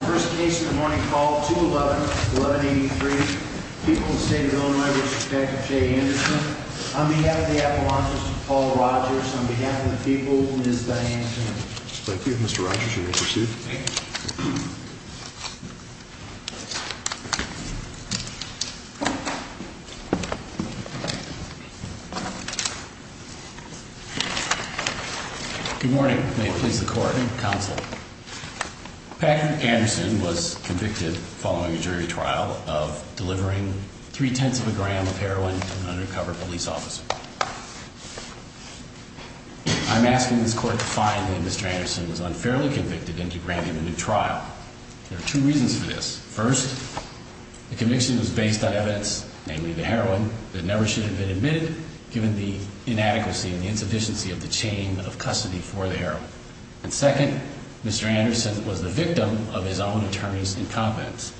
First case of the morning called 211-1183. People of the state of Illinois v. Detective Jay Anderson. On behalf of the Appalachians, Paul Rogers. On behalf of the people, Ms. Diane Timmons. Thank you. Mr. Rogers, you may proceed. Good morning. May it please the court. Good morning, counsel. Patrick Anderson was convicted following a jury trial of delivering three-tenths of a gram of heroin to an undercover police officer. I'm asking this court to find that Mr. Anderson was unfairly convicted and to grant him a new trial. There are two reasons for this. First, the conviction was based on evidence, namely the heroin, that never should have been admitted given the inadequacy and the insufficiency of the chain of custody for the heroin. And second, Mr. Anderson was the victim of his own attorney's incompetence.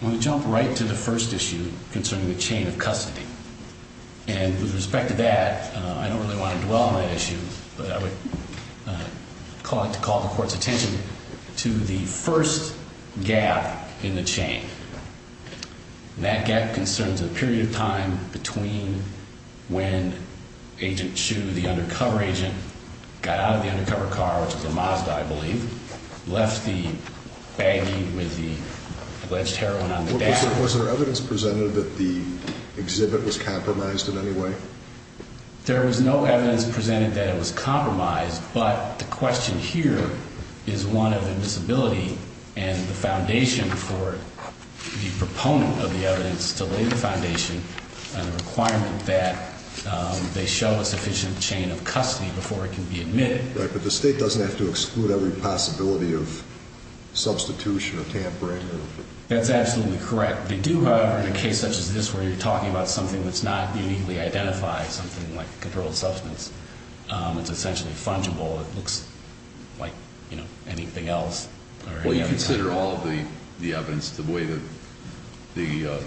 I want to jump right to the first issue concerning the chain of custody. And with respect to that, I don't really want to dwell on that issue, but I would like to call the court's attention to the first gap in the chain. And that gap concerns a period of time between when Agent Hsu, the undercover agent, got out of the undercover car, which was a Mazda, I believe, left the baggie with the alleged heroin on the dash. Was there evidence presented that the exhibit was compromised in any way? There was no evidence presented that it was compromised, but the question here is one of invisibility and the foundation for the proponent of the evidence to lay the foundation and the requirement that they show a sufficient chain of custody before it can be admitted. Right, but the state doesn't have to exclude every possibility of substitution or tampering. That's absolutely correct. They do, however, in a case such as this where you're talking about something that's not uniquely identified, something like a controlled substance, it's essentially fungible. It looks like anything else. Well, you consider all of the evidence, the way that the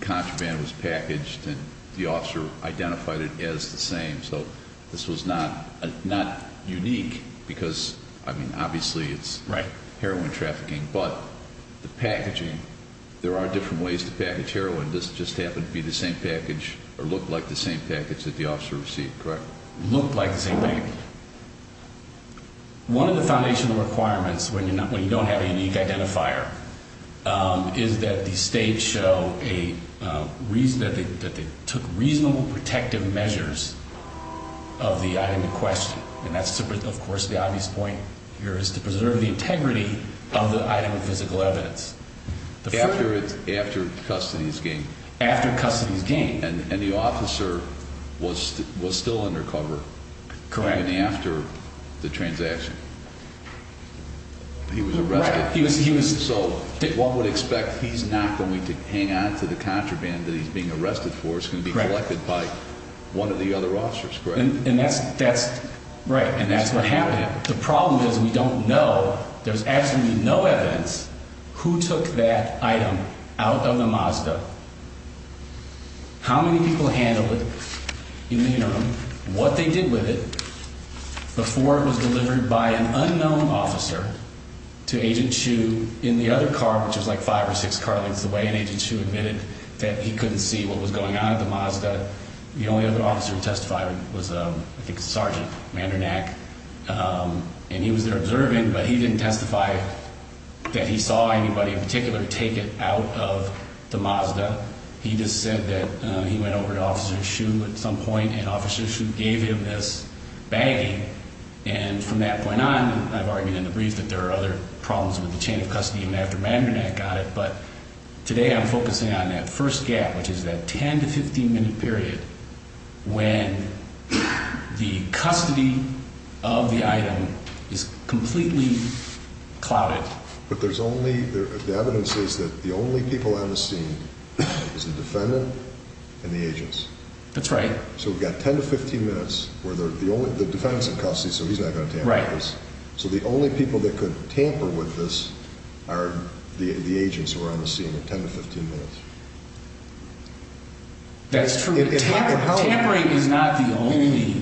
contraband was packaged and the officer identified it as the same, so this was not unique because, I mean, obviously it's heroin trafficking, but the packaging, there are different ways to package heroin. This just happened to be the same package or looked like the same package that the officer received, correct? Looked like the same package. One of the foundational requirements when you don't have a unique identifier is that the state show that they took reasonable protective measures of the item in question. And that's, of course, the obvious point here is to preserve the integrity of the item of physical evidence. After custody is gained. After custody is gained. And the officer was still undercover. Correct. Even after the transaction. He was arrested. He was. So one would expect he's not going to hang on to the contraband that he's being arrested for. It's going to be collected by one of the other officers, correct? And that's, that's right. And that's what happened. The problem is we don't know. There's absolutely no evidence. Who took that item out of the Mazda? How many people handled it in the interim? What they did with it before it was delivered by an unknown officer to Agent Hsu in the other car, which is like five or six car lengths away. And Agent Hsu admitted that he couldn't see what was going on at the Mazda. The only other officer who testified was, I think, Sergeant Mandernak. And he was there observing, but he didn't testify that he saw anybody in particular take it out of the Mazda. He just said that he went over to Officer Hsu at some point, and Officer Hsu gave him this baggie. And from that point on, I've argued in the brief that there are other problems with the chain of custody even after Mandernak got it. But today I'm focusing on that first gap, which is that 10 to 15 minute period when the custody of the item is completely clouded. But there's only, the evidence says that the only people on the scene is the defendant and the agents. That's right. So we've got 10 to 15 minutes where the only, the defendant's in custody, so he's not going to tamper with this. That's true. Tampering is not the only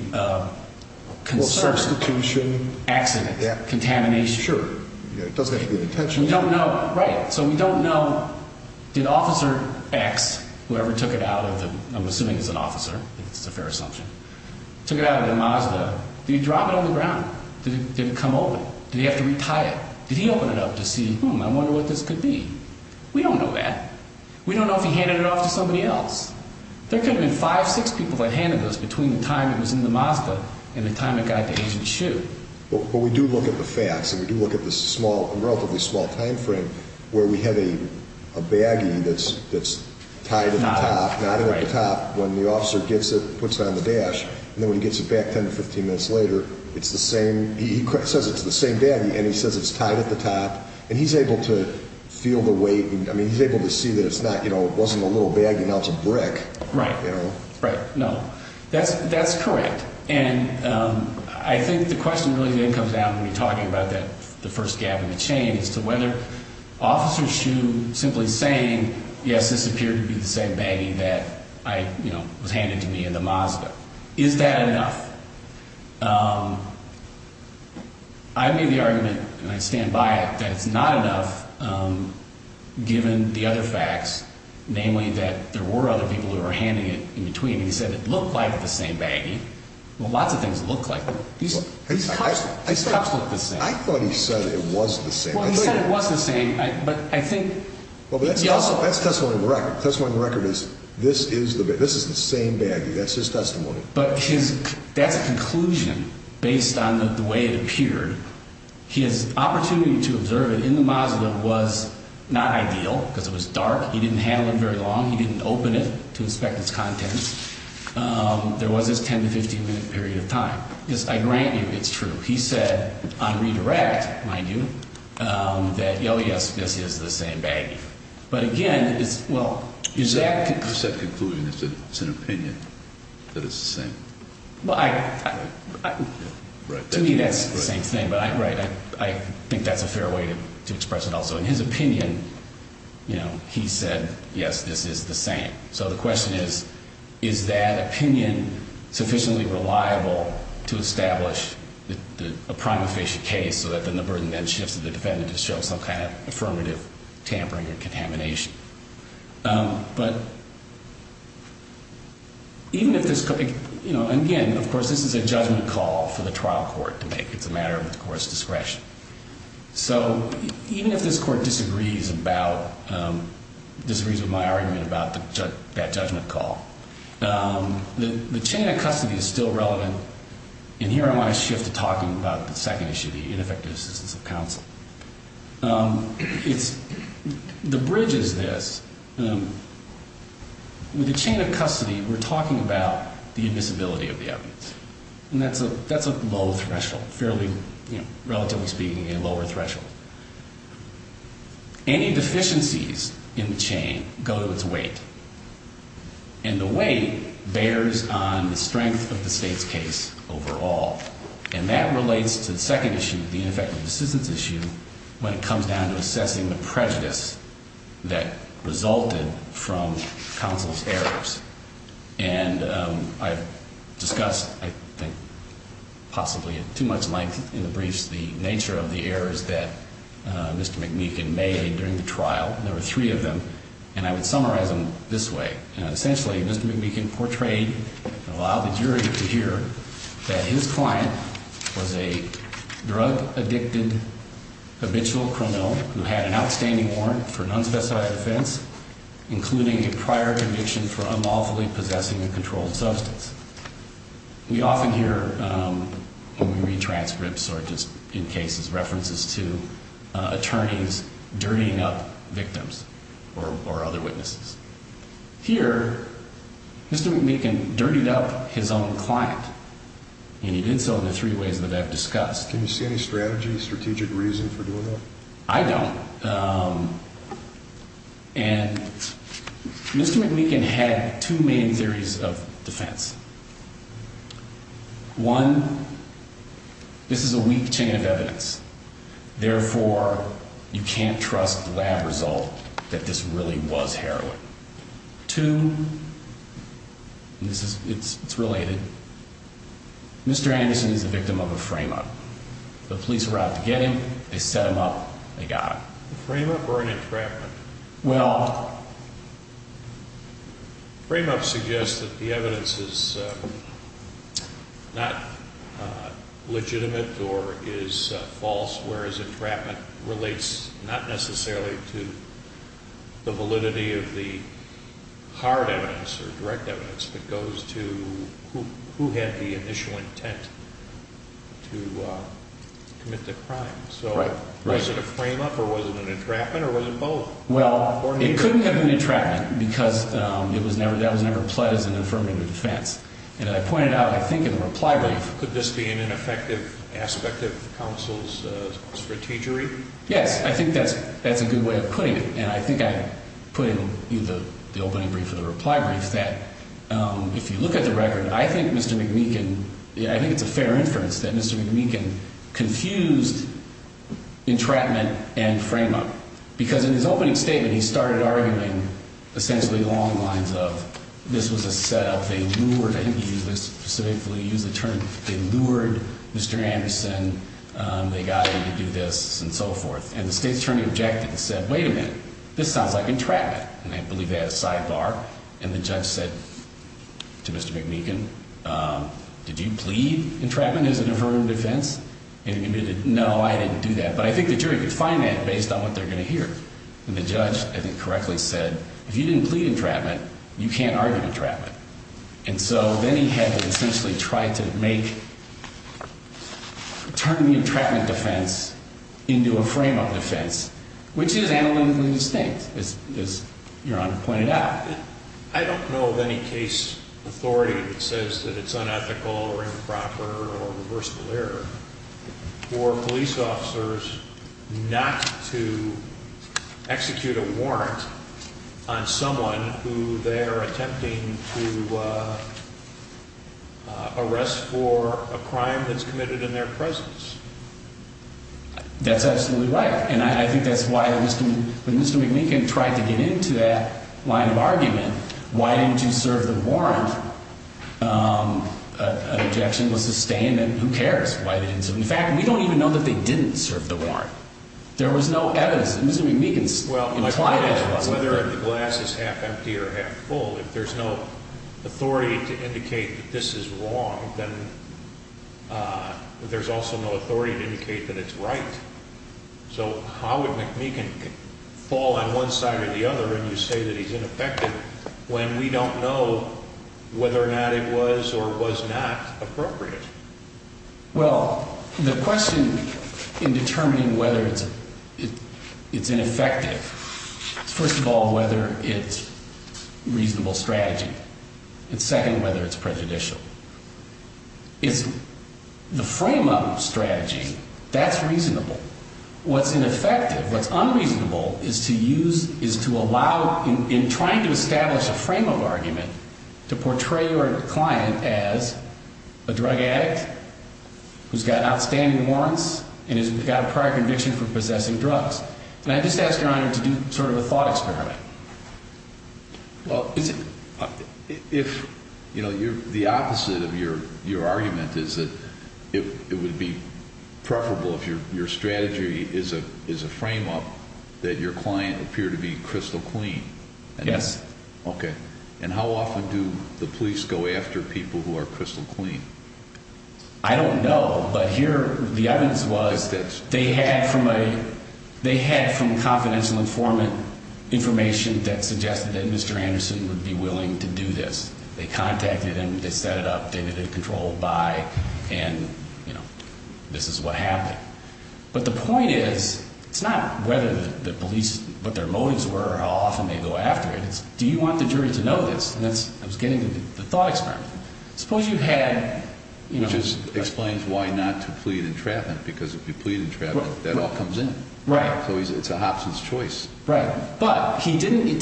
concern. Substitution. Accident. Contamination. Sure. It doesn't have to be a detention. We don't know. Right. So we don't know, did Officer X, whoever took it out of the, I'm assuming it's an officer. It's a fair assumption. Took it out of the Mazda. Did he drop it on the ground? Did it come open? Did he have to re-tie it? Did he open it up to see, hmm, I wonder what this could be? We don't know that. We don't know if he handed it off to somebody else. There could have been five, six people that handed this between the time it was in the Mazda and the time it got to Agent Hsu. But we do look at the facts, and we do look at the small, relatively small time frame where we have a baggie that's tied at the top. Not at the top. Not at the top. When the officer gets it, puts it on the dash, and then when he gets it back 10 to 15 minutes later, it's the same, he says it's the same baggie, and he says it's tied at the top, and he's able to feel the weight. I mean, he's able to see that it's not, you know, it wasn't a little baggie, now it's a brick. Right. You know? Right. No. That's correct. And I think the question really then comes down when you're talking about the first gap in the chain as to whether officers should simply say, yes, this appeared to be the same baggie that, you know, was handed to me in the Mazda. Is that enough? I made the argument, and I stand by it, that it's not enough given the other facts, namely that there were other people who were handing it in between, and he said it looked like the same baggie. Well, lots of things look like them. These cops look the same. I thought he said it was the same. Well, he said it was the same, but I think he also – Well, that's testimony to the record. Testimony to the record is this is the same baggie. That's his testimony. But his – that's a conclusion based on the way it appeared. His opportunity to observe it in the Mazda was not ideal because it was dark. He didn't handle it very long. He didn't open it to inspect its contents. There was this 10- to 15-minute period of time. I grant you it's true. He said on redirect, mind you, that, oh, yes, this is the same baggie. But, again, it's – well, is that – Well, I – to me that's the same thing. But, right, I think that's a fair way to express it also. In his opinion, you know, he said, yes, this is the same. So the question is, is that opinion sufficiently reliable to establish a prima facie case so that then the burden then shifts to the defendant to show some kind of affirmative tampering or contamination? But even if this – you know, again, of course, this is a judgment call for the trial court to make. It's a matter of the court's discretion. So even if this court disagrees about – disagrees with my argument about that judgment call, the chain of custody is still relevant. And here I want to shift to talking about the second issue, the ineffective assistance of counsel. It's – the bridge is this. With the chain of custody, we're talking about the admissibility of the evidence. And that's a low threshold, fairly, you know, relatively speaking, a lower threshold. Any deficiencies in the chain go to its weight. And the weight bears on the strength of the State's case overall. And that relates to the second issue, the ineffective assistance issue, when it comes down to assessing the prejudice that resulted from counsel's errors. And I've discussed, I think, possibly at too much length in the briefs, the nature of the errors that Mr. McMeekin made during the trial. There were three of them. And I would summarize them this way. Essentially, Mr. McMeekin portrayed, allowed the jury to hear, that his client was a drug-addicted habitual criminal who had an outstanding warrant for an unspecified offense, including a prior conviction for unlawfully possessing a controlled substance. We often hear, when we read transcripts or just in cases, references to attorneys dirtying up victims or other witnesses. Here, Mr. McMeekin dirtied up his own client. And he did so in the three ways that I've discussed. Can you see any strategy, strategic reason for doing that? I don't. And Mr. McMeekin had two main theories of defense. One, this is a weak chain of evidence. Therefore, you can't trust the lab result that this really was heroin. Two, and it's related, Mr. Anderson is the victim of a frame-up. The police arrived to get him. They set him up. They got him. A frame-up or an entrapment? Well, frame-ups suggest that the evidence is not legitimate or is false, whereas entrapment relates not necessarily to the validity of the hard evidence or direct evidence, but goes to who had the initial intent to commit the crime. So was it a frame-up or was it an entrapment or was it both? Well, it couldn't have been entrapment because that was never pled as an affirmative defense. And I pointed out, I think in the reply brief. Could this be an ineffective aspect of counsel's strategy? Yes. I think that's a good way of putting it. And I think I put in the opening brief of the reply brief that if you look at the record, I think Mr. McMeekin, I think it's a fair inference that Mr. McMeekin confused entrapment and frame-up because in his opening statement he started arguing essentially long lines of this was a set-up. They lured, I think he specifically used the term, they lured Mr. Anderson. They got him to do this and so forth. And the State's Attorney objected and said, wait a minute, this sounds like entrapment. And I believe they had a sidebar. And the judge said to Mr. McMeekin, did you plead entrapment as an affirmative defense? And he admitted, no, I didn't do that. But I think the jury could find that based on what they're going to hear. And the judge, I think, correctly said, if you didn't plead entrapment, you can't argue entrapment. And so then he had to essentially try to make, turn the entrapment defense into a frame-up defense, which is analytically distinct, as Your Honor pointed out. I don't know of any case authority that says that it's unethical or improper or a reversible error. For police officers not to execute a warrant on someone who they're attempting to arrest for a crime that's committed in their presence. That's absolutely right. And I think that's why when Mr. McMeekin tried to get into that line of argument, why didn't you serve the warrant, an objection was sustained, and who cares why they didn't serve the warrant. In fact, we don't even know that they didn't serve the warrant. There was no evidence. Mr. McMeekin implied evidence. Whether the glass is half empty or half full, if there's no authority to indicate that this is wrong, then there's also no authority to indicate that it's right. So how would McMeekin fall on one side or the other and you say that he's ineffective when we don't know whether or not it was or was not appropriate? Well, the question in determining whether it's ineffective is, first of all, whether it's reasonable strategy, and second, whether it's prejudicial. The frame of strategy, that's reasonable. What's ineffective, what's unreasonable, is to allow, in trying to establish a frame of argument, to portray your client as a drug addict who's got outstanding warrants and has got a prior conviction for possessing drugs. And I just ask Your Honor to do sort of a thought experiment. Well, the opposite of your argument is that it would be preferable, if your strategy is a frame-up, that your client appear to be crystal clean. Yes. Okay. And how often do the police go after people who are crystal clean? I don't know. But here, the evidence was they had from confidential informant information that suggested that Mr. Anderson would be willing to do this. They contacted him, they set it up, they had it controlled by, and this is what happened. But the point is, it's not whether the police, what their motives were or how often they go after it. It's, do you want the jury to know this? And that's, I was getting to the thought experiment. Suppose you had, you know. Which explains why not to plead entrapment, because if you plead entrapment, that all comes in. Right. So it's a Hobson's choice. Right. But he didn't,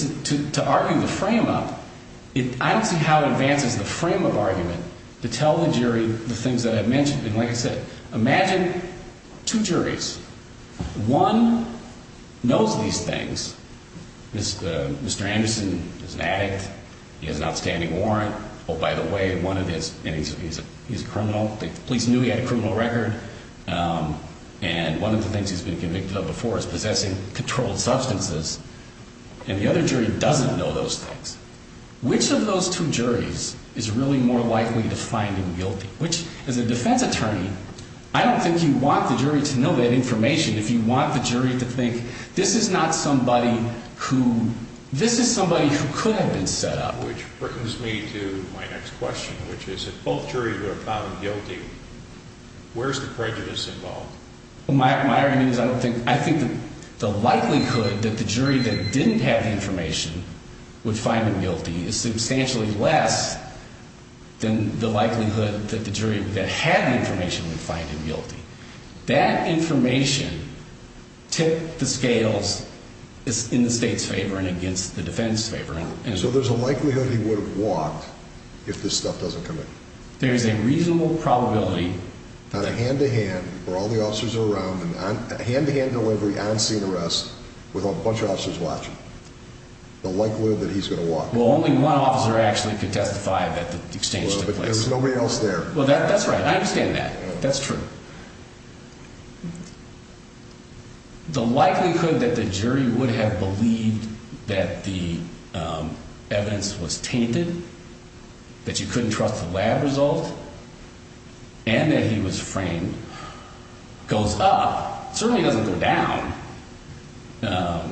to argue the frame-up, I don't see how it advances the frame-up argument to tell the jury the things that I've mentioned. And like I said, imagine two juries. One knows these things. Mr. Anderson is an addict. He has an outstanding warrant. Oh, by the way, one of his, and he's a criminal. The police knew he had a criminal record. And one of the things he's been convicted of before is possessing controlled substances. And the other jury doesn't know those things. Which of those two juries is really more likely to find him guilty? Which, as a defense attorney, I don't think you want the jury to know that information if you want the jury to think, this is not somebody who, this is somebody who could have been set up. Which brings me to my next question, which is if both juries would have found him guilty, where's the prejudice involved? My irony is I don't think, I think the likelihood that the jury that didn't have the information would find him guilty is substantially less than the likelihood that the jury that had the information would find him guilty. That information tipped the scales in the state's favor and against the defense's favor. So there's a likelihood he would have walked if this stuff doesn't come in. There is a reasonable probability. On a hand-to-hand, where all the officers are around, hand-to-hand delivery, on-scene arrest, with a bunch of officers watching, the likelihood that he's going to walk. Well, only one officer actually could testify that the exchange took place. Well, but there was nobody else there. Well, that's right. I understand that. That's true. The likelihood that the jury would have believed that the evidence was tainted, that you couldn't trust the lab result, and that he was framed, goes up. It certainly doesn't go down.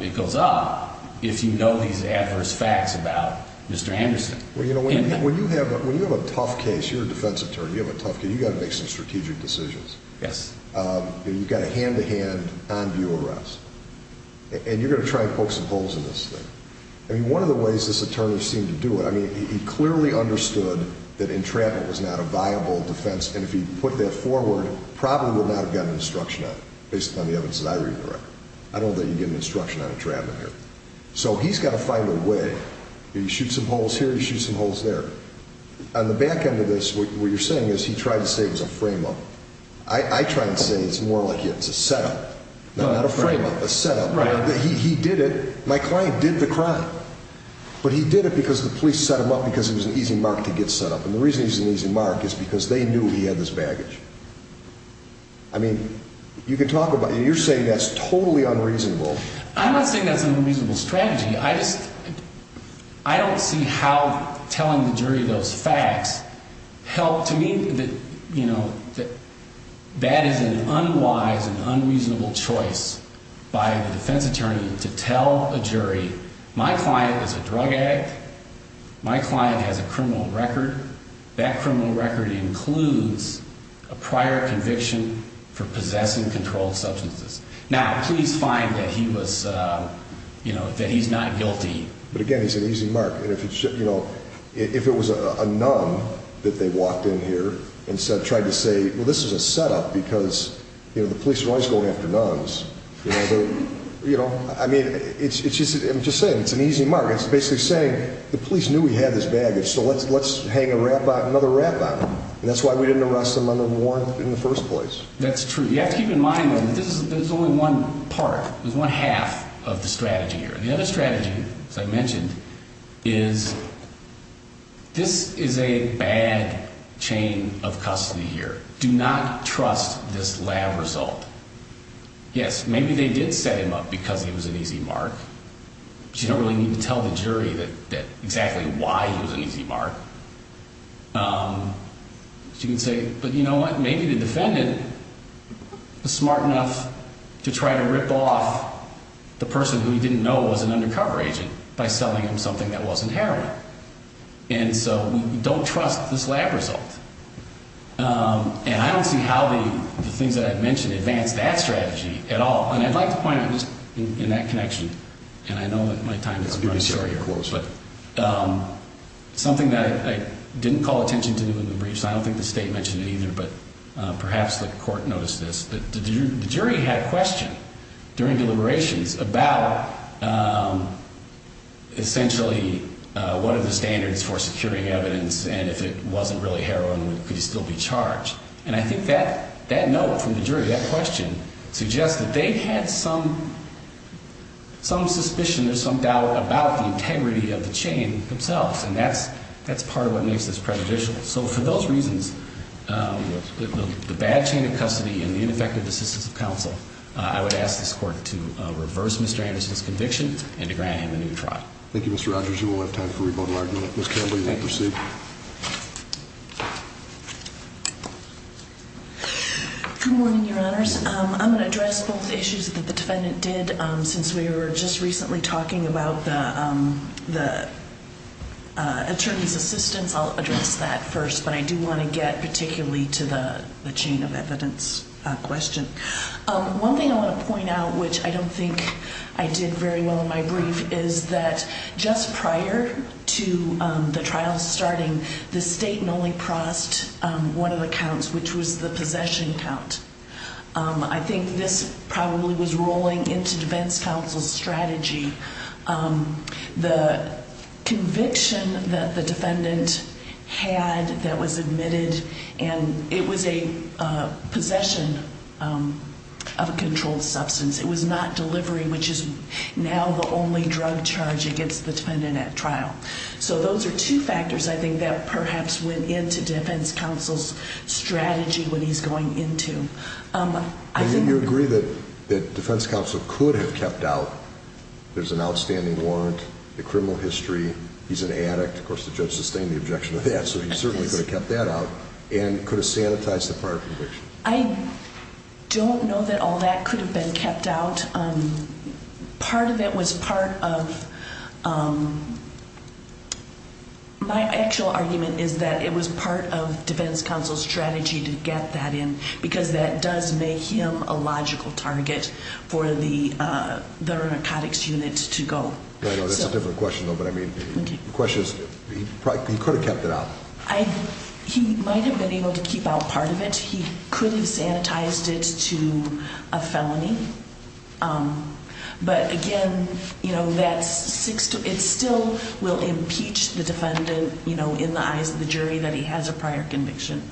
It goes up if you know these adverse facts about Mr. Anderson. Well, you know, when you have a tough case, you're a defense attorney, you have a tough case, you've got to make some strategic decisions. Yes. You've got a hand-to-hand, on-view arrest. And you're going to try and poke some holes in this thing. I mean, one of the ways this attorney seemed to do it, I mean, he clearly understood that entrapment was not a viable defense, and if he put that forward, probably would not have gotten an instruction on it, based upon the evidence that I read in the record. I don't think you get an instruction on entrapment here. So he's got to find a way. You shoot some holes here, you shoot some holes there. On the back end of this, what you're saying is he tried to say it was a frame-up. I try to say it's more like it's a set-up. Not a frame-up, a set-up. He did it. My client did the crime. But he did it because the police set him up, because it was an easy mark to get set up. And the reason he's an easy mark is because they knew he had this baggage. I mean, you can talk about it. You're saying that's totally unreasonable. I'm not saying that's an unreasonable strategy. I don't see how telling the jury those facts helped. To me, that is an unwise and unreasonable choice by the defense attorney to tell a jury, my client is a drug addict, my client has a criminal record. That criminal record includes a prior conviction for possessing controlled substances. Now, please find that he's not guilty. But, again, he's an easy mark. And if it was a nun that they walked in here and tried to say, well, this is a set-up because the police are always going after nuns. I mean, I'm just saying, it's an easy mark. It's basically saying the police knew he had this baggage, so let's hang another wrap on him. And that's why we didn't arrest him on the warrant in the first place. That's true. You have to keep in mind, though, that this is only one part. There's only half of the strategy here. The other strategy, as I mentioned, is this is a bad chain of custody here. Do not trust this lab result. Yes, maybe they did set him up because he was an easy mark. But you don't really need to tell the jury exactly why he was an easy mark. You can say, but you know what? Maybe the defendant was smart enough to try to rip off the person who he didn't know was an undercover agent by selling him something that wasn't heroin. And so don't trust this lab result. And I don't see how the things that I've mentioned advance that strategy at all. And I'd like to point out just in that connection, and I know that my time is running short here, but something that I didn't call attention to in the briefs, I don't think the state mentioned it either, but perhaps the court noticed this, that the jury had a question during deliberations about essentially what are the standards for securing evidence, and if it wasn't really heroin, could he still be charged? And I think that note from the jury, that question, suggests that they had some suspicion or some doubt about the integrity of the chain themselves, and that's part of what makes this prejudicial. So for those reasons, the bad chain of custody and the ineffective assistance of counsel, I would ask this court to reverse Mr. Anderson's conviction and to grant him a new trial. Thank you, Mr. Rogers. We'll have time for rebuttal argument. Ms. Campbell, you may proceed. Good morning, Your Honors. I'm going to address both issues that the defendant did since we were just recently talking about the attorney's assistance. I'll address that first, but I do want to get particularly to the chain of evidence question. One thing I want to point out, which I don't think I did very well in my brief, is that just prior to the trial starting, the state only crossed one of the counts, which was the possession count. I think this probably was rolling into defense counsel's strategy. The conviction that the defendant had that was admitted, and it was a possession of a controlled substance. It was not delivery, which is now the only drug charge against the defendant at trial. So those are two factors, I think, that perhaps went into defense counsel's strategy when he's going into. And you agree that defense counsel could have kept out, there's an outstanding warrant, the criminal history, he's an addict. Of course, the judge sustained the objection to that, so he certainly could have kept that out and could have sanitized the prior conviction. I don't know that all that could have been kept out. Part of it was part of my actual argument is that it was part of defense counsel's strategy to get that in, because that does make him a logical target for the narcotics unit to go. That's a different question, though, but I mean the question is he could have kept it out. He might have been able to keep out part of it. He could have sanitized it to a felony. But again, it still will impeach the defendant in the eyes of the jury that he has a prior conviction.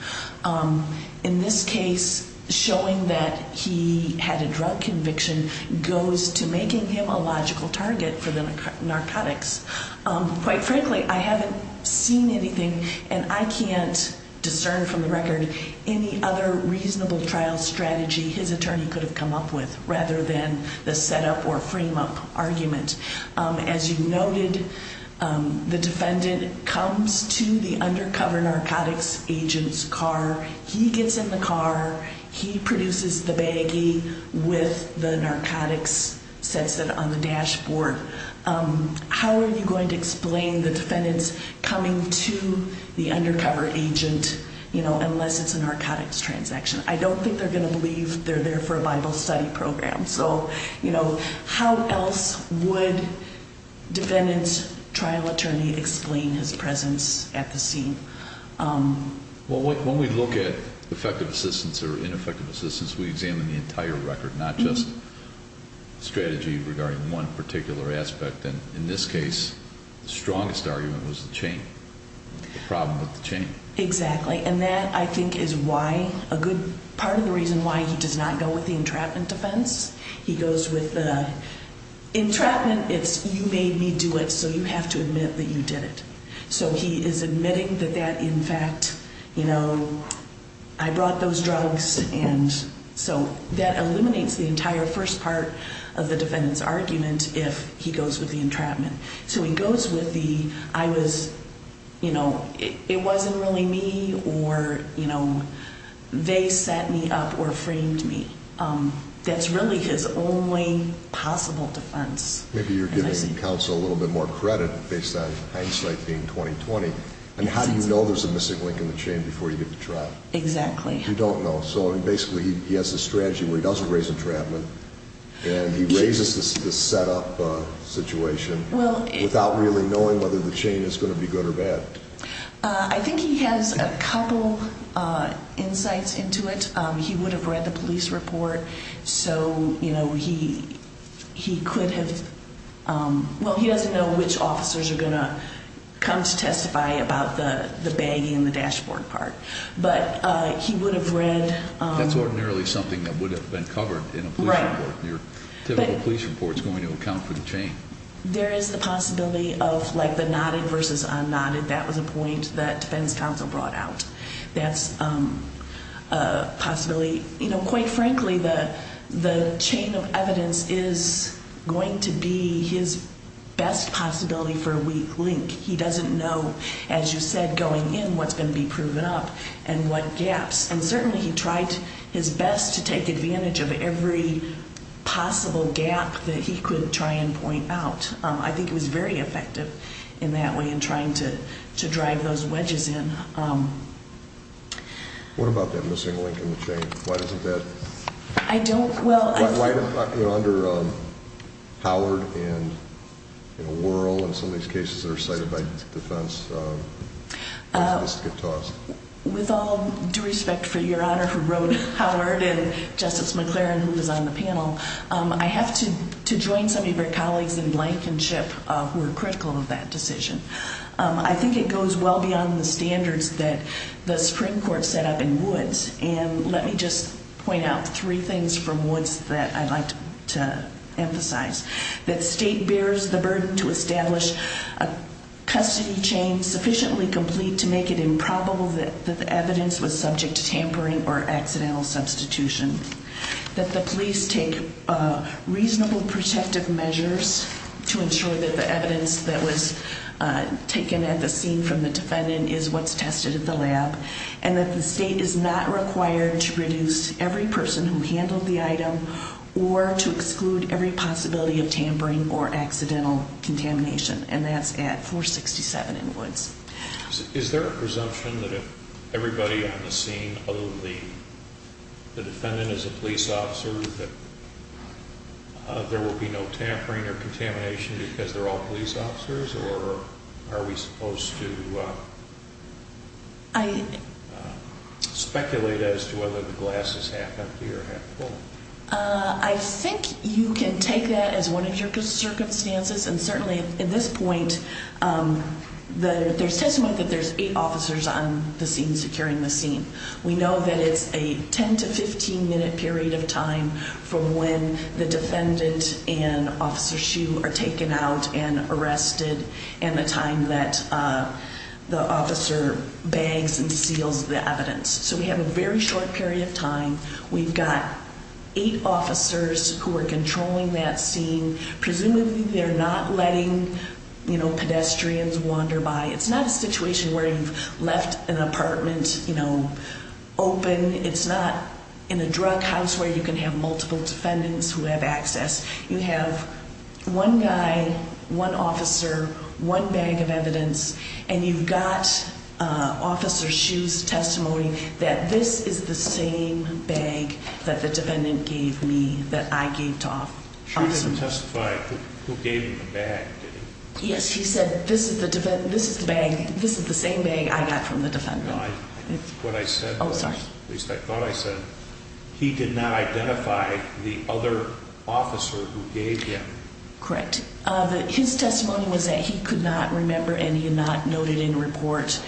In this case, showing that he had a drug conviction goes to making him a logical target for the narcotics. Quite frankly, I haven't seen anything, and I can't discern from the record, any other reasonable trial strategy his attorney could have come up with rather than the set-up or frame-up argument. As you noted, the defendant comes to the undercover narcotics agent's car. He gets in the car. He produces the baggie with the narcotics, sets it on the dashboard. How are you going to explain the defendant's coming to the undercover agent unless it's a narcotics transaction? I don't think they're going to believe they're there for a Bible study program. So how else would defendant's trial attorney explain his presence at the scene? Well, when we look at effective assistance or ineffective assistance, we examine the entire record, not just strategy regarding one particular aspect. And in this case, the strongest argument was the chain, the problem with the chain. Exactly. And that, I think, is why, a good part of the reason why he does not go with the entrapment defense. He goes with the entrapment, it's you made me do it, so you have to admit that you did it. So he is admitting that that, in fact, you know, I brought those drugs. And so that eliminates the entire first part of the defendant's argument if he goes with the entrapment. So he goes with the, I was, you know, it wasn't really me or, you know, they set me up or framed me. That's really his only possible defense. Maybe you're giving counsel a little bit more credit based on hindsight being 20-20. And how do you know there's a missing link in the chain before you get to trial? Exactly. You don't know. So, I mean, basically, he has a strategy where he doesn't raise entrapment. And he raises the setup situation without really knowing whether the chain is going to be good or bad. I think he has a couple insights into it. He would have read the police report. So, you know, he could have, well, he doesn't know which officers are going to come to testify about the bagging and the dashboard part. But he would have read. That's ordinarily something that would have been covered in a police report. Your typical police report is going to account for the chain. There is the possibility of, like, the nodded versus unnodded. That was a point that defense counsel brought out. That's a possibility. You know, quite frankly, the chain of evidence is going to be his best possibility for a weak link. He doesn't know, as you said, going in what's going to be proven up and what gaps. And certainly he tried his best to take advantage of every possible gap that he could try and point out. I think it was very effective in that way in trying to drive those wedges in. What about that missing link in the chain? Why doesn't that? I don't. Well, under Howard and Worrell and some of these cases that are cited by defense, why doesn't this get tossed? With all due respect for Your Honor who wrote Howard and Justice McLaren who was on the panel, I have to join some of your colleagues in Blankenship who were critical of that decision. I think it goes well beyond the standards that the Supreme Court set up in Woods. And let me just point out three things from Woods that I'd like to emphasize. That state bears the burden to establish a custody chain sufficiently complete to make it improbable that the evidence was subject to tampering or accidental substitution. That the police take reasonable protective measures to ensure that the evidence that was taken at the scene from the defendant is what's tested at the lab. And that the state is not required to reduce every person who handled the item or to exclude every possibility of tampering or accidental contamination. And that's at 467 in Woods. Is there a presumption that if everybody on the scene, other than the defendant is a police officer, that there will be no tampering or contamination because they're all police officers? Or are we supposed to speculate as to whether the glass is half empty or half full? I think you can take that as one of your circumstances. And certainly at this point, there's testimony that there's eight officers on the scene securing the scene. We know that it's a 10 to 15 minute period of time from when the defendant and Officer Hsu are taken out and arrested. And the time that the officer bags and seals the evidence. We've got eight officers who are controlling that scene. Presumably they're not letting pedestrians wander by. It's not a situation where you've left an apartment open. It's not in a drug house where you can have multiple defendants who have access. You have one guy, one officer, one bag of evidence. And you've got Officer Hsu's testimony that this is the same bag that the defendant gave me, that I gave to Officer Hsu. Hsu didn't testify who gave him the bag, did he? Yes, he said this is the same bag I got from the defendant. What I said was, at least I thought I said, he did not identify the other officer who gave him. Correct. His testimony was that he could not remember and he had not noted in the report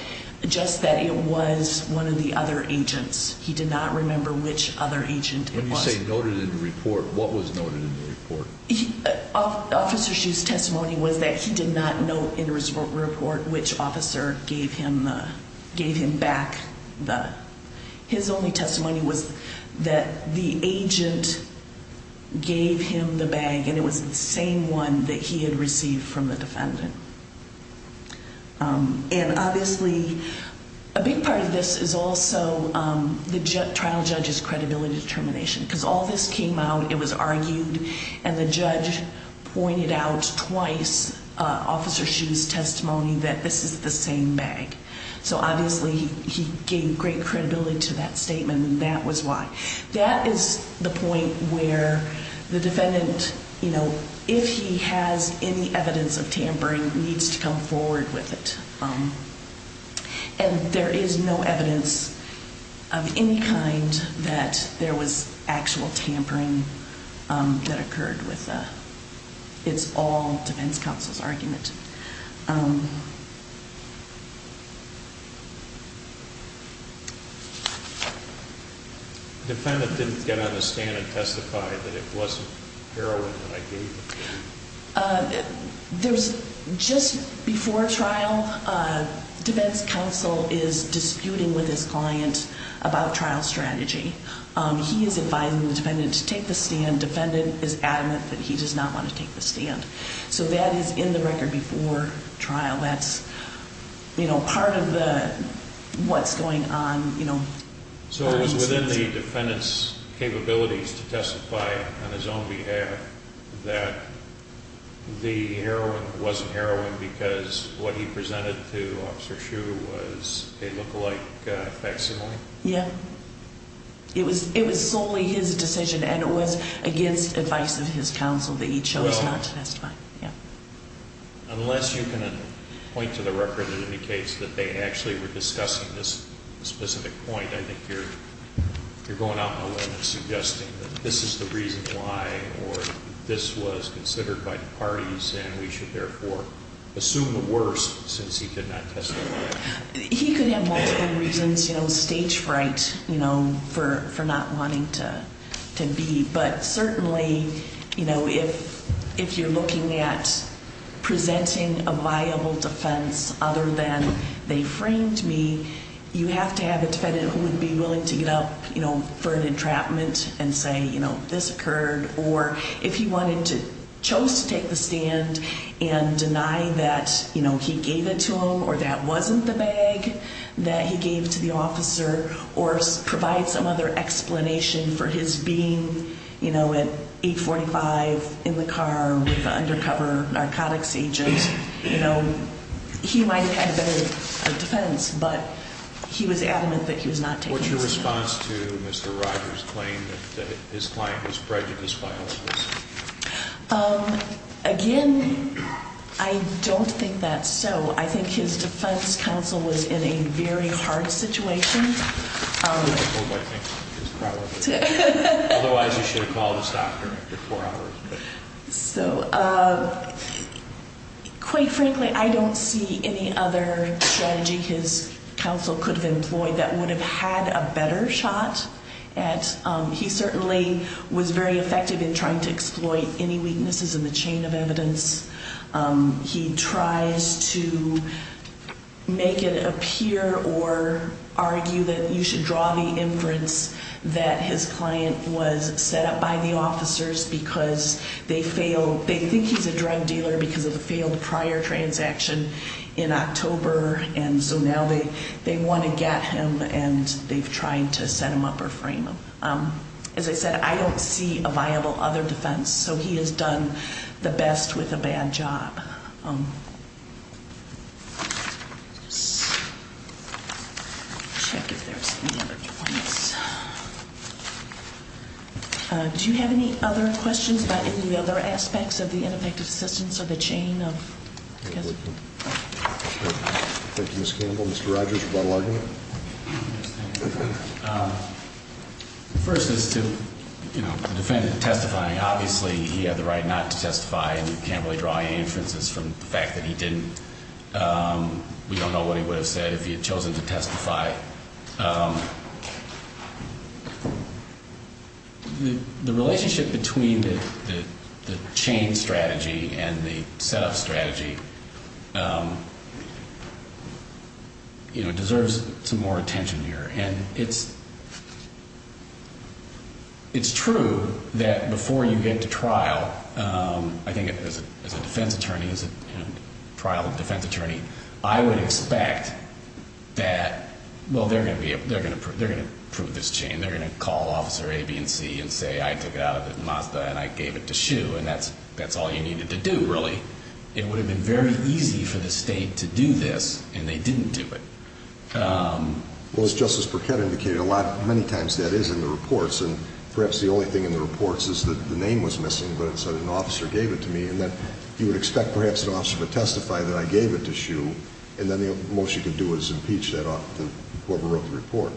just that it was one of the other agents. He did not remember which other agent it was. When you say noted in the report, what was noted in the report? Officer Hsu's testimony was that he did not note in his report which officer gave him the, gave him back the. His only testimony was that the agent gave him the bag and it was the same one that he had received from the defendant. And obviously, a big part of this is also the trial judge's credibility determination. Because all this came out, it was argued, and the judge pointed out twice Officer Hsu's testimony that this is the same bag. So obviously, he gave great credibility to that statement and that was why. That is the point where the defendant, you know, if he has any evidence of tampering, needs to come forward with it. And there is no evidence of any kind that there was actual tampering that occurred with the, it's all defense counsel's argument. Defendant didn't get on the stand and testify that it wasn't heroin that I gave him. There's, just before trial, defense counsel is disputing with his client about trial strategy. He is advising the defendant to take the stand. Defendant is adamant that he does not want to take the stand. So that is in the record before trial. That's, you know, part of the, what's going on, you know. So it was within the defendant's capabilities to testify on his own behalf that the heroin wasn't heroin because what he presented to Officer Hsu was a lookalike facsimile? Yeah. It was solely his decision and it was against advice of his counsel that he chose not to testify. Unless you can point to the record that indicates that they actually were discussing this specific point, I think you're going out on a limb and suggesting that this is the reason why or this was considered by the parties and we should therefore assume the worst since he could not testify. He could have multiple reasons, you know, stage fright, you know, for not wanting to be. But certainly, you know, if you're looking at presenting a viable defense other than they framed me, you have to have a defendant who would be willing to get up, you know, for an entrapment and say, you know, this occurred. Or if he wanted to, chose to take the stand and deny that, you know, he gave it to him or that wasn't the bag that he gave to the officer or provide some other explanation for his being, you know, at 845 in the car with the undercover narcotics agent. You know, he might have had a better defense, but he was adamant that he was not taking the stand. What's your response to Mr. Rogers' claim that his client was prejudiced by officers? Again, I don't think that's so. I think his defense counsel was in a very hard situation. Otherwise, you should have called his doctor after four hours. So quite frankly, I don't see any other strategy his counsel could have employed that would have had a better shot. He certainly was very effective in trying to exploit any weaknesses in the chain of evidence. He tries to make it appear or argue that you should draw the inference that his client was set up by the officers because they fail. They think he's a drug dealer because of the failed prior transaction in October. And so now they want to get him and they've tried to set him up or frame him. As I said, I don't see a viable other defense. So he has done the best with a bad job. Do you have any other questions about any other aspects of the ineffective assistance or the chain of evidence? Thank you, Ms. Campbell. Mr. Rogers, you want to argue? First is to, you know, the defendant testifying. Obviously, he had the right not to testify, and we can't really draw any inferences from the fact that he didn't. We don't know what he would have said if he had chosen to testify. The relationship between the chain strategy and the set-up strategy, you know, deserves some more attention here. And it's true that before you get to trial, I think as a defense attorney, as a trial defense attorney, I would expect that, well, they're going to prove this chain. They're going to call Officer A, B, and C and say, I took it out of Mazda and I gave it to Hsu, and that's all you needed to do, really. It would have been very easy for the state to do this, and they didn't do it. Well, as Justice Burkett indicated, many times that is in the reports. And perhaps the only thing in the reports is that the name was missing, but it said an officer gave it to me. And then you would expect perhaps an officer to testify that I gave it to Hsu, and then the most you could do is impeach whoever wrote the report.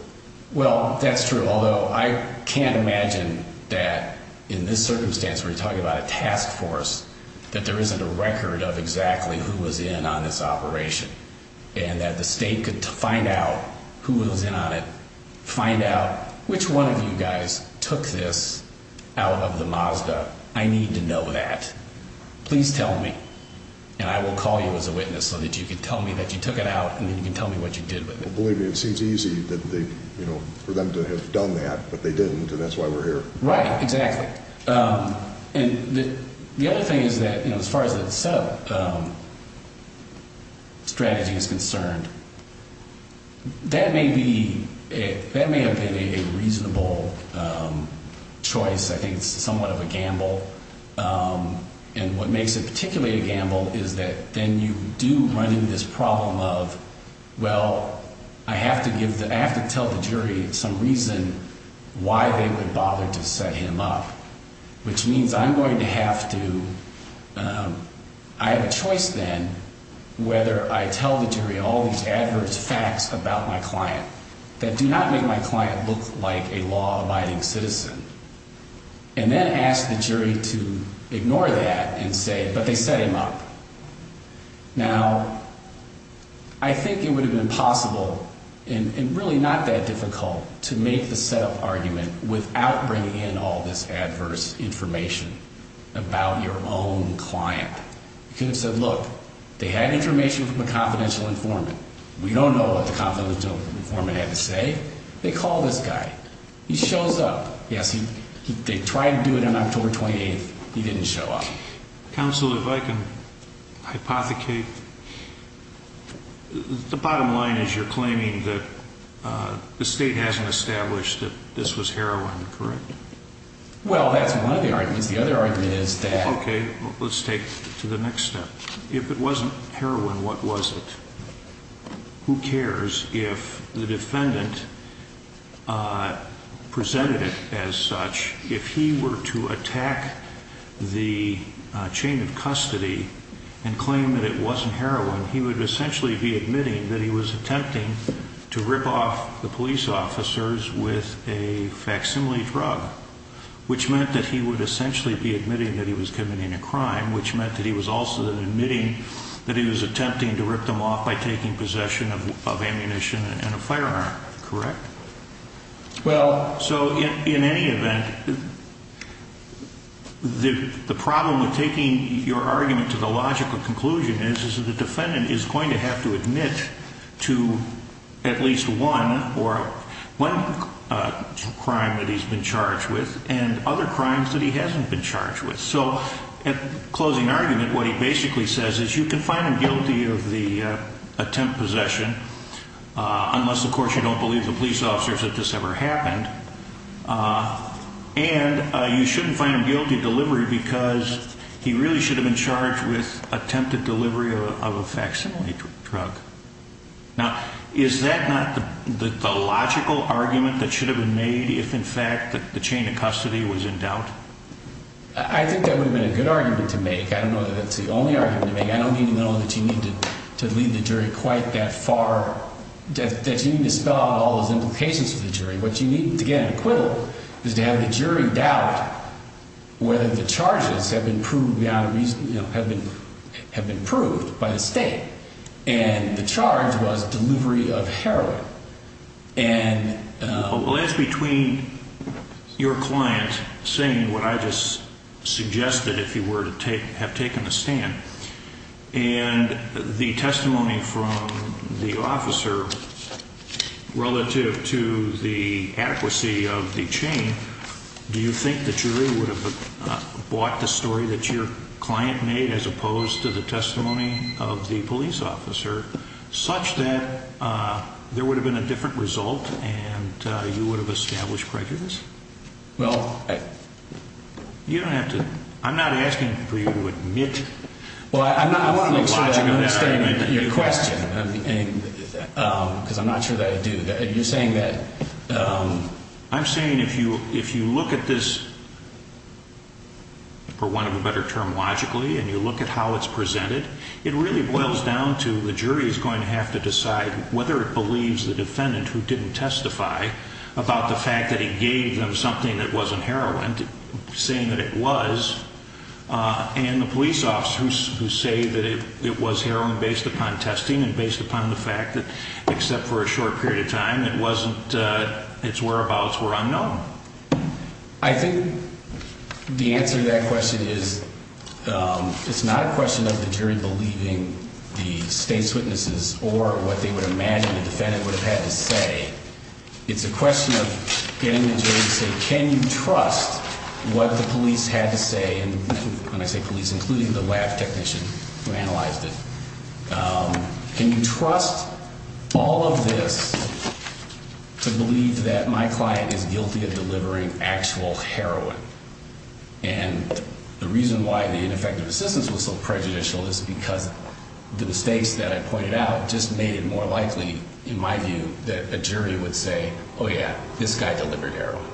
Well, that's true, although I can't imagine that in this circumstance where you're talking about a task force, that there isn't a record of exactly who was in on this operation. And that the state could find out who was in on it, find out which one of you guys took this out of the Mazda. I need to know that. Please tell me, and I will call you as a witness so that you can tell me that you took it out and then you can tell me what you did with it. Well, believe me, it seems easy for them to have done that, but they didn't, and that's why we're here. Right, exactly. And the other thing is that, you know, as far as the setup strategy is concerned, that may be – that may have been a reasonable choice. I think it's somewhat of a gamble. And what makes it particularly a gamble is that then you do run into this problem of, well, I have to give – I have to tell the jury some reason why they would bother to set him up. Which means I'm going to have to – I have a choice then whether I tell the jury all these adverse facts about my client that do not make my client look like a law-abiding citizen. And then ask the jury to ignore that and say, but they set him up. Now, I think it would have been possible, and really not that difficult, to make the setup argument without bringing in all this adverse information about your own client. You could have said, look, they had information from a confidential informant. We don't know what the confidential informant had to say. They call this guy. He shows up. Yes, they tried to do it on October 28th. He didn't show up. Counsel, if I can hypothecate, the bottom line is you're claiming that the state hasn't established that this was heroin, correct? Well, that's one of the arguments. The other argument is that – Okay, let's take it to the next step. If it wasn't heroin, what was it? Who cares if the defendant presented it as such? If he were to attack the chain of custody and claim that it wasn't heroin, he would essentially be admitting that he was attempting to rip off the police officers with a facsimile drug, which meant that he would essentially be admitting that he was committing a crime, which meant that he was also admitting that he was attempting to rip them off by taking possession of ammunition and a firearm, correct? Well – So in any event, the problem with taking your argument to the logical conclusion is that the defendant is going to have to admit to at least one crime that he's been charged with and other crimes that he hasn't been charged with. So in closing argument, what he basically says is you can find him guilty of the attempt possession, unless of course you don't believe the police officers that this ever happened, and you shouldn't find him guilty of delivery because he really should have been charged with attempted delivery of a facsimile drug. Now, is that not the logical argument that should have been made if in fact the chain of custody was in doubt? I think that would have been a good argument to make. I don't know that that's the only argument to make. I don't even know that you need to lead the jury quite that far, that you need to spell out all those implications for the jury. What you need to get an acquittal is to have the jury doubt whether the charges have been proved by the state. And the charge was delivery of heroin. Well, as between your client saying what I just suggested, if you were to have taken a stand, and the testimony from the officer relative to the adequacy of the chain, do you think the jury would have bought the story that your client made as opposed to the testimony of the police officer such that there would have been a different result and you would have established prejudice? Well, I... You don't have to... I'm not asking for you to admit... Well, I want to make sure that I'm understanding your question, because I'm not sure that I do. You're saying that... I'm saying if you look at this, for want of a better term, logically, and you look at how it's presented, it really boils down to the jury is going to have to decide whether it believes the defendant who didn't testify about the fact that he gave them something that wasn't heroin, saying that it was, and the police officer who say that it was heroin based upon testing and based upon the fact that, except for a short period of time, it wasn't... its whereabouts were unknown. I think the answer to that question is it's not a question of the jury believing the state's witnesses or what they would imagine the defendant would have had to say. It's a question of getting the jury to say, can you trust what the police had to say, and when I say police, including the lab technician who analyzed it, can you trust all of this to believe that my client is guilty of delivering actual heroin? And the reason why the ineffective assistance was so prejudicial is because the mistakes that I pointed out just made it more likely, in my view, that a jury would say, oh yeah, this guy delivered heroin.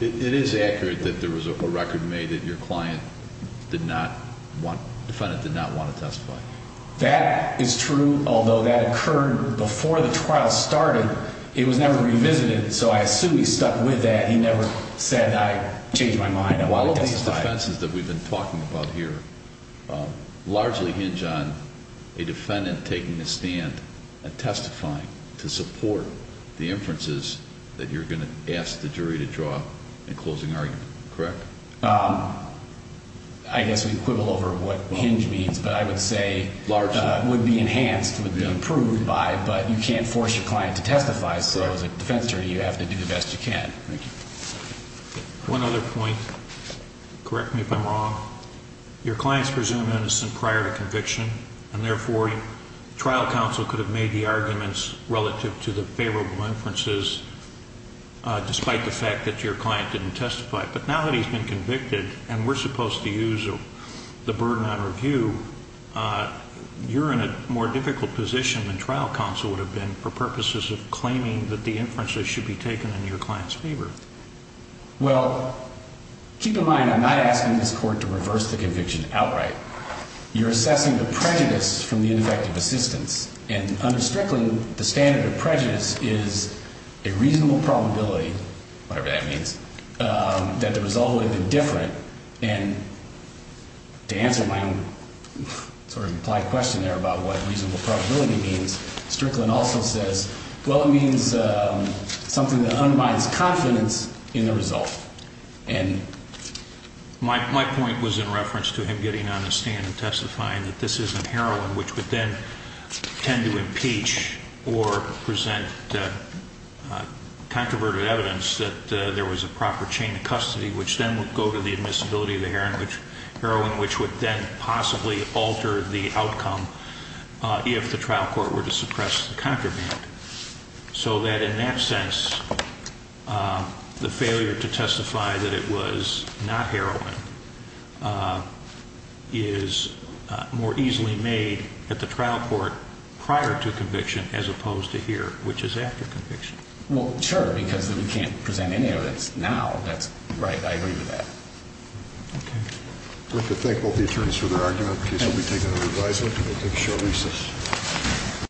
It is accurate that there was a record made that your client did not want... defendant did not want to testify. That is true, although that occurred before the trial started. It was never revisited, so I assume he stuck with that. He never said, I changed my mind, I want to testify. All of these defenses that we've been talking about here largely hinge on a defendant taking a stand and testifying to support the inferences that you're going to ask the jury to draw in closing argument, correct? I guess we quibble over what hinge means, but I would say... Largely. ...would be enhanced, would be improved by, but you can't force your client to testify, so as a defense jury you have to do the best you can. Thank you. One other point, correct me if I'm wrong. Your client's presumed innocent prior to conviction, and therefore trial counsel could have made the arguments relative to the favorable inferences, despite the fact that your client didn't testify. But now that he's been convicted and we're supposed to use the burden on review, you're in a more difficult position than trial counsel would have been for purposes of claiming that the inferences should be taken in your client's favor. Well, keep in mind I'm not asking this court to reverse the conviction outright. You're assessing the prejudice from the ineffective assistance, and under Strickland the standard of prejudice is a reasonable probability, whatever that means, that the result would have been different, and to answer my own sort of implied question there about what reasonable probability means, Strickland also says, well, it means something that unbinds confidence in the result. My point was in reference to him getting on the stand and testifying that this isn't heroin, which would then tend to impeach or present controverted evidence that there was a proper chain of custody, which then would go to the admissibility of the heroin, which would then possibly alter the outcome if the trial court were to suppress the contraband, so that in that sense the failure to testify that it was not heroin is more easily made at the trial court prior to conviction as opposed to here, which is after conviction. Well, sure, because we can't present any evidence now. Right, I agree with that. Okay. I'd like to thank both the attorneys for their argument. The case will be taken under revisal. We'll take a short recess.